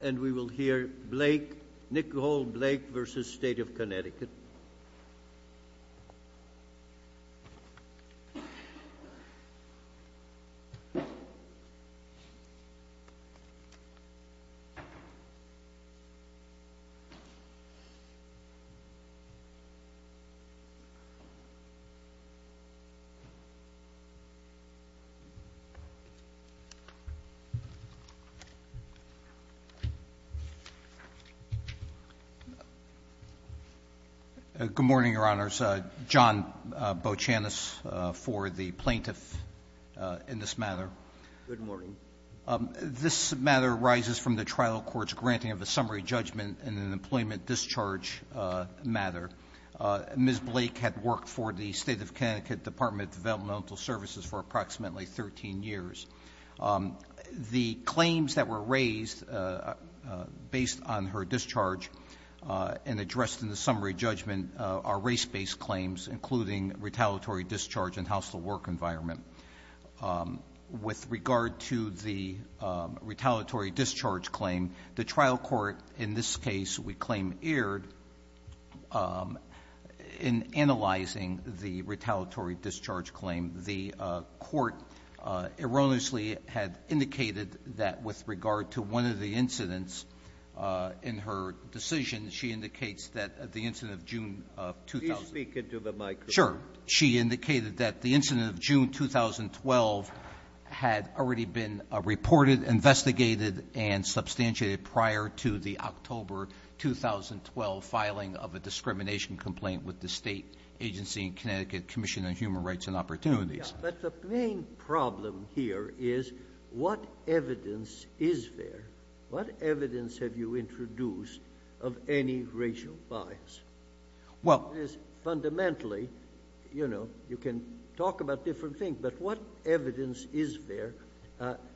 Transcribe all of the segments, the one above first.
And we will hear Blake, Nick Gould, Blake v. State of Connecticut. Good morning, Your Honors. John Boachanis for the plaintiff in this matter. Good morning. This matter arises from the trial court's granting of a summary judgment in an employment discharge matter. Ms. Blake had worked for the State of Connecticut Department of Developmental Services for approximately 13 years. The claims that were raised based on her discharge and addressed in the summary judgment are race-based claims, including retaliatory discharge and hostile work environment. With regard to the retaliatory discharge claim, the trial court in this case, we claim, erred in analyzing the retaliatory discharge claim. The court erroneously had indicated that with regard to one of the incidents in her decision, she indicates that the incident of June of 2000 ---- Please speak into the microphone. Sure. She indicated that the incident of June 2012 had already been reported, investigated, and substantiated prior to the October 2012 filing of a discrimination complaint with the State Agency in Connecticut Commission on Human Rights and Opportunities. But the main problem here is what evidence is there, what evidence have you introduced of any racial bias? Well ---- Fundamentally, you know, you can talk about different things, but what evidence is there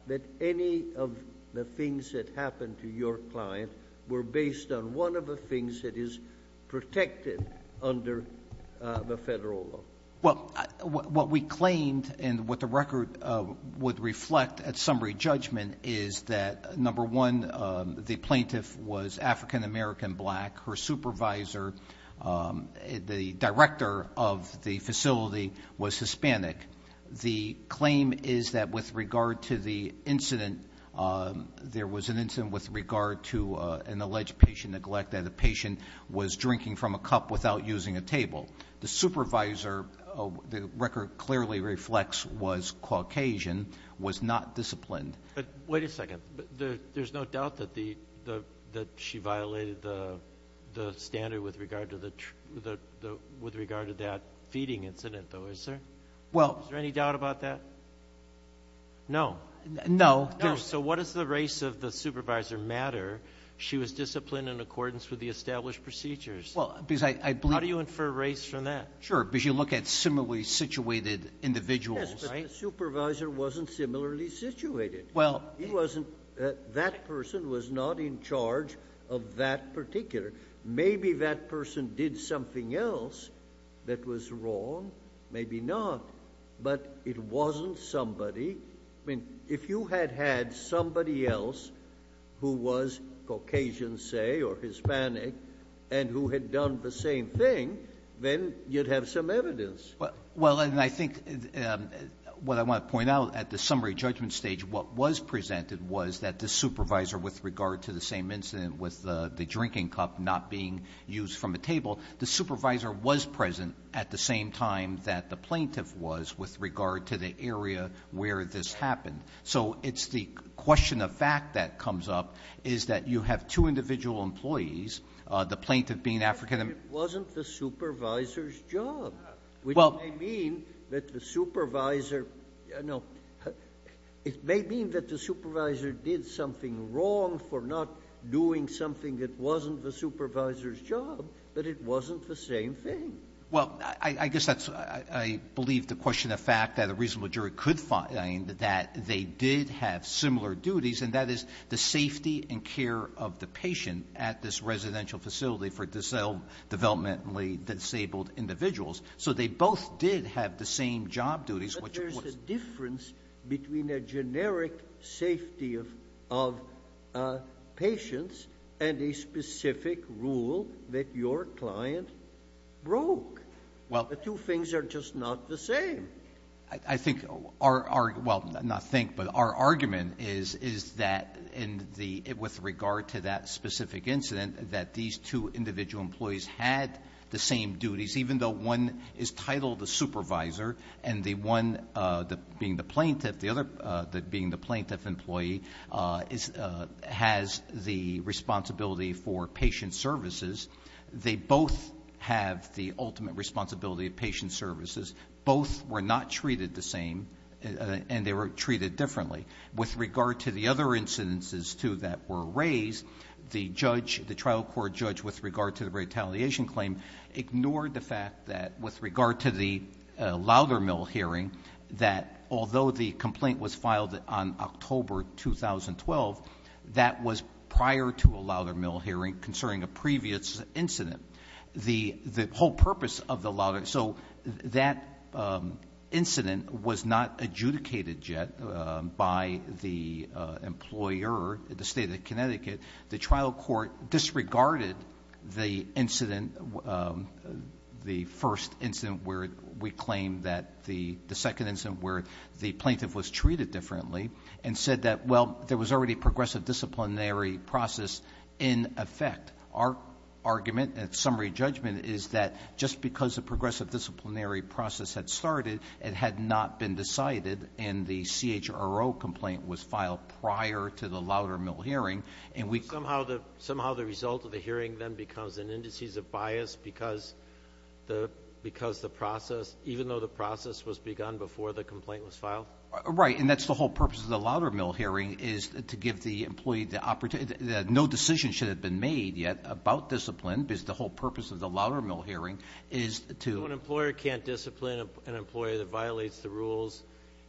that any of the things that happened to your client were based on one of the things that is protected under the federal law? Well, what we claimed and what the record would reflect at summary judgment is that, number one, the plaintiff was African American black. Her supervisor, the director of the facility, was Hispanic. The claim is that with regard to the incident, there was an incident with regard to an alleged patient neglect, that the patient was drinking from a cup without using a table. The supervisor, the record clearly reflects, was Caucasian, was not disciplined. Wait a second. There's no doubt that she violated the standard with regard to that feeding incident, though, is there? Well ---- Is there any doubt about that? No. No. No, so what is the race of the supervisor matter? She was disciplined in accordance with the established procedures. Well, because I believe ---- How do you infer race from that? Sure, because you look at similarly situated individuals. Yes, but the supervisor wasn't similarly situated. Well ---- He wasn't. That person was not in charge of that particular. Maybe that person did something else that was wrong, maybe not, but it wasn't somebody. I mean, if you had had somebody else who was Caucasian, say, or Hispanic, and who had done the same thing, then you'd have some evidence. Well, and I think what I want to point out at the summary judgment stage, what was presented was that the supervisor, with regard to the same incident with the drinking cup not being used from a table, the supervisor was present at the same time that the plaintiff was with regard to the area where this happened. So it's the question of fact that comes up is that you have two individual employees, the plaintiff being African ---- It wasn't the supervisor's job. Well ---- It may mean that the supervisor did something wrong for not doing something that wasn't the supervisor's job, but it wasn't the same thing. Well, I guess that's why I believe the question of fact that a reasonable jury could find that they did have similar duties, and that is the safety and care of the patient at this residential facility for developmentally disabled individuals. So they both did have the same job duties, which of course ---- There's a difference between a generic safety of patients and a specific rule that your client broke. Well ---- The two things are just not the same. I think our ---- Well, not think, but our argument is that in the ---- with regard to that specific incident that these two individual employees had the same duties, even though one is titled the supervisor and the one being the plaintiff, the other being the plaintiff employee has the responsibility for patient services, they both have the ultimate responsibility of patient services. Both were not treated the same, and they were treated differently. With regard to the other incidences, too, that were raised, the judge, our judge with regard to the retaliation claim ignored the fact that with regard to the Loudermill hearing, that although the complaint was filed on October 2012, that was prior to a Loudermill hearing concerning a previous incident. The whole purpose of the Loudermill ---- So that incident was not adjudicated yet by the employer at the State of Connecticut. The trial court disregarded the incident, the first incident where we claim that the second incident where the plaintiff was treated differently and said that, well, there was already a progressive disciplinary process in effect. Our argument and summary judgment is that just because a progressive disciplinary process had started, it had not been decided and the CHRO complaint was filed prior to the Loudermill hearing and we ---- Somehow the result of the hearing then becomes an indices of bias because the process, even though the process was begun before the complaint was filed? Right, and that's the whole purpose of the Loudermill hearing is to give the employee the opportunity. No decision should have been made yet about discipline because the whole purpose of the Loudermill hearing is to ---- When an employer can't discipline an employee that violates the rules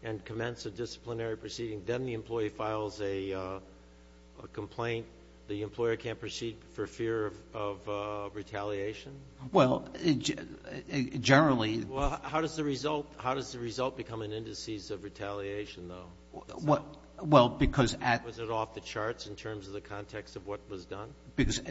and commence a disciplinary proceeding, then the employee files a complaint. The employer can't proceed for fear of retaliation? Well, generally ---- Well, how does the result become an indices of retaliation, though? Well, because at ---- Was it off the charts in terms of the context of what was done? Because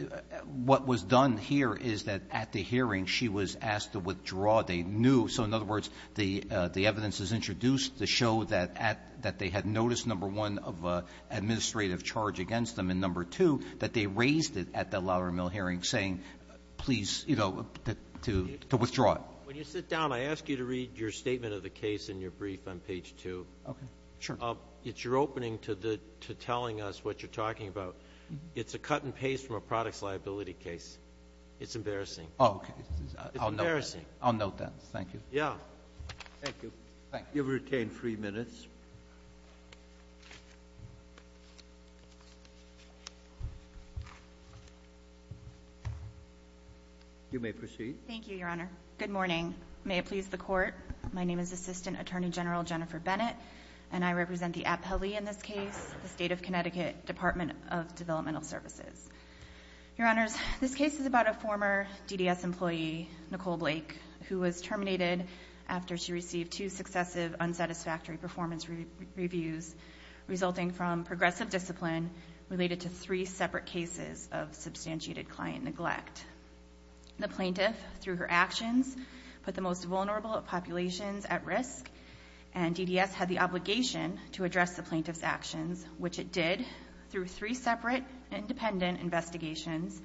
what was done here is that at the hearing she was asked to withdraw. So, in other words, the evidence is introduced to show that they had noticed, number one, of an administrative charge against them and, number two, that they raised it at the Loudermill hearing saying, please, you know, to withdraw it. When you sit down, I ask you to read your statement of the case in your brief on page 2. Okay, sure. It's your opening to telling us what you're talking about. It's a cut and paste from a products liability case. It's embarrassing. Oh, okay. I'll note that. It's embarrassing. I'll note that. Thank you. Yeah. Thank you. Thank you. You've retained three minutes. You may proceed. Thank you, Your Honor. Good morning. May it please the Court, my name is Assistant Attorney General Jennifer Bennett, and I represent the APELI in this case, the State of Connecticut Department of Developmental Services. Your Honors, this case is about a former DDS employee, Nicole Blake, who was terminated after she received two successive unsatisfactory performance reviews, resulting from progressive discipline related to three separate cases of substantiated client neglect. The plaintiff, through her actions, put the most vulnerable populations at risk, and DDS had the obligation to address the plaintiff's actions, which it did through three separate independent investigations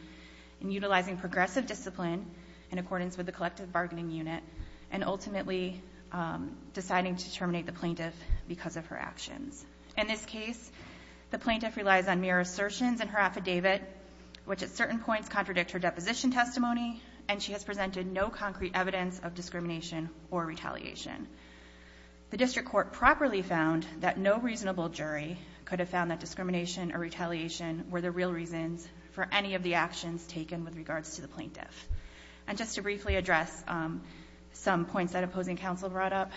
in utilizing progressive discipline in accordance with the collective bargaining unit, and ultimately deciding to terminate the plaintiff because of her actions. In this case, the plaintiff relies on mere assertions in her affidavit, which at certain points contradict her deposition testimony, and she has presented no concrete evidence of discrimination or retaliation. The district court properly found that no reasonable jury could have found that discrimination or retaliation were the real reasons for any of the actions taken with regards to the plaintiff. And just to briefly address some points that opposing counsel brought up,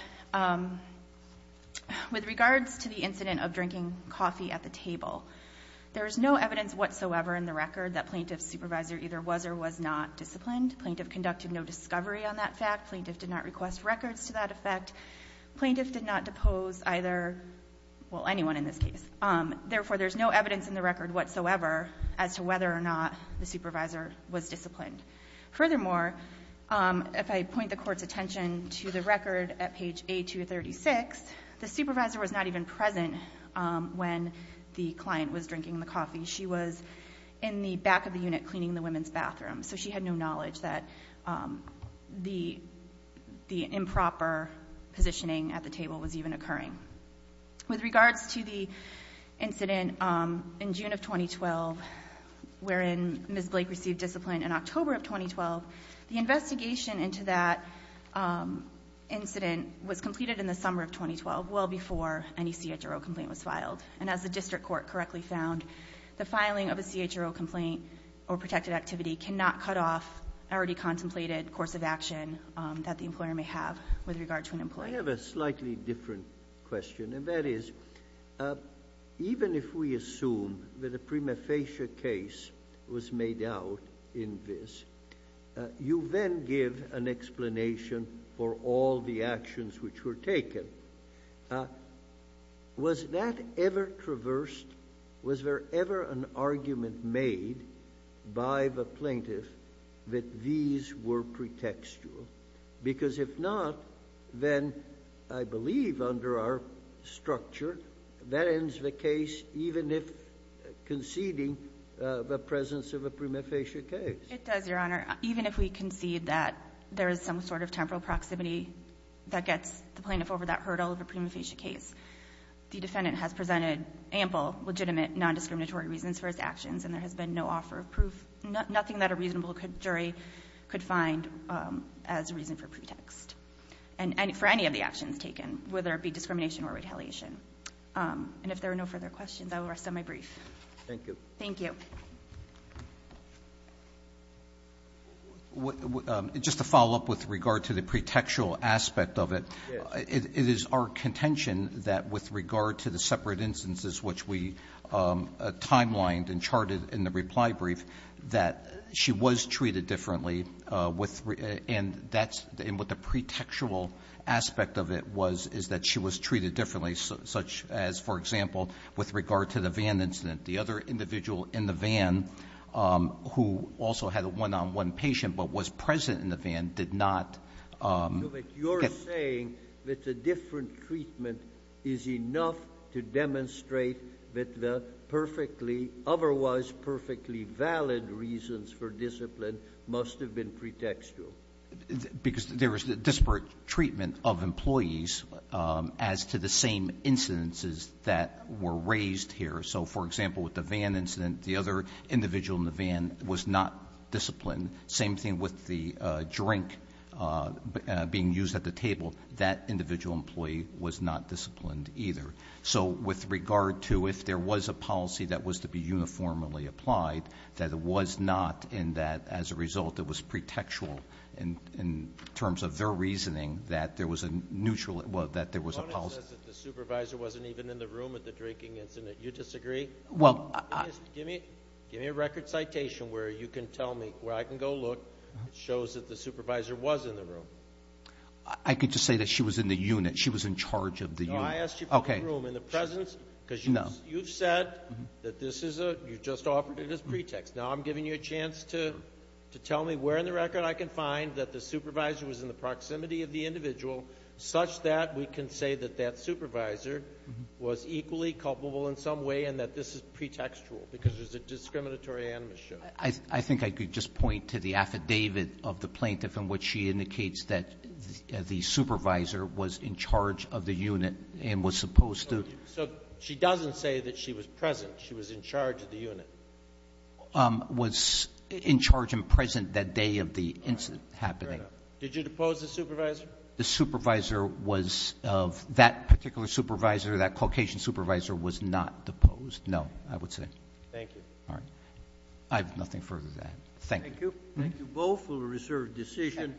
with regards to the incident of drinking coffee at the table, there is no evidence whatsoever in the record that plaintiff's supervisor either was or was not disciplined. Plaintiff conducted no discovery on that fact. Plaintiff did not request records to that effect. Plaintiff did not depose either, well, anyone in this case. Therefore, there is no evidence in the record whatsoever as to whether or not the supervisor was disciplined. Furthermore, if I point the Court's attention to the record at page A236, the supervisor was not even present when the client was drinking the coffee. She was in the back of the unit cleaning the women's bathroom, so she had no knowledge that the improper positioning at the table was even occurring. With regards to the incident in June of 2012 wherein Ms. Blake received discipline in October of 2012, the investigation into that incident was completed in the summer of 2012, well before any CHRO complaint was filed. And as the district court correctly found, the filing of a CHRO complaint or protected activity cannot cut off an already contemplated course of action that the employer may have with regard to an employee. I have a slightly different question, and that is, even if we assume that a prima facie case was made out in this, you then give an explanation for all the actions which were taken. Was that ever traversed? Was there ever an argument made by the plaintiff that these were pretextual? Because if not, then I believe under our structure that ends the case even if conceding the presence of a prima facie case. It does, Your Honor. Even if we concede that there is some sort of temporal proximity that gets the plaintiff over that hurdle of a prima facie case, the defendant has presented ample legitimate nondiscriminatory reasons for his actions, and there has been no offer of proof, nothing that a reasonable jury could find as reason for pretext for any of the actions taken, whether it be discrimination or retaliation. And if there are no further questions, I will rest on my brief. Thank you. Thank you. Just to follow up with regard to the pretextual aspect of it, it is our contention that with regard to the separate instances which we timelined and charted in the reply brief that she was treated differently, and what the pretextual aspect of it was is that she was treated differently, such as, for example, with regard to the van incident. The other individual in the van, who also had a one-on-one patient but was present in the van, did not. No, but you're saying that the different treatment is enough to demonstrate that the perfectly, otherwise perfectly valid reasons for discipline must have been pretextual. Because there was disparate treatment of employees as to the same incidences that were raised here. So, for example, with the van incident, the other individual in the van was not disciplined. Same thing with the drink being used at the table. That individual employee was not disciplined either. So with regard to if there was a policy that was to be uniformly applied, that it was not, and that as a result it was pretextual in terms of their reasoning, that there was a neutral or that there was a policy. The supervisor wasn't even in the room at the drinking incident. You disagree? Give me a record citation where you can tell me where I can go look. It shows that the supervisor was in the room. I could just say that she was in the unit. She was in charge of the unit. No, I asked you for the room. In the presence? No. Because you've said that this is a, you just offered it as pretext. Now I'm giving you a chance to tell me where in the record I can find that the supervisor was in the proximity of the individual, such that we can say that that supervisor was equally culpable in some way and that this is pretextual because there's a discriminatory animus show. I think I could just point to the affidavit of the plaintiff in which she indicates that the supervisor was in charge of the unit and was supposed to. So she doesn't say that she was present. She was in charge of the unit. Was in charge and present that day of the incident happening. Did you depose the supervisor? The supervisor was, that particular supervisor, that Caucasian supervisor, was not deposed. No, I would say. Thank you. All right. I have nothing further to add. Thank you. Thank you both for the reserved decision.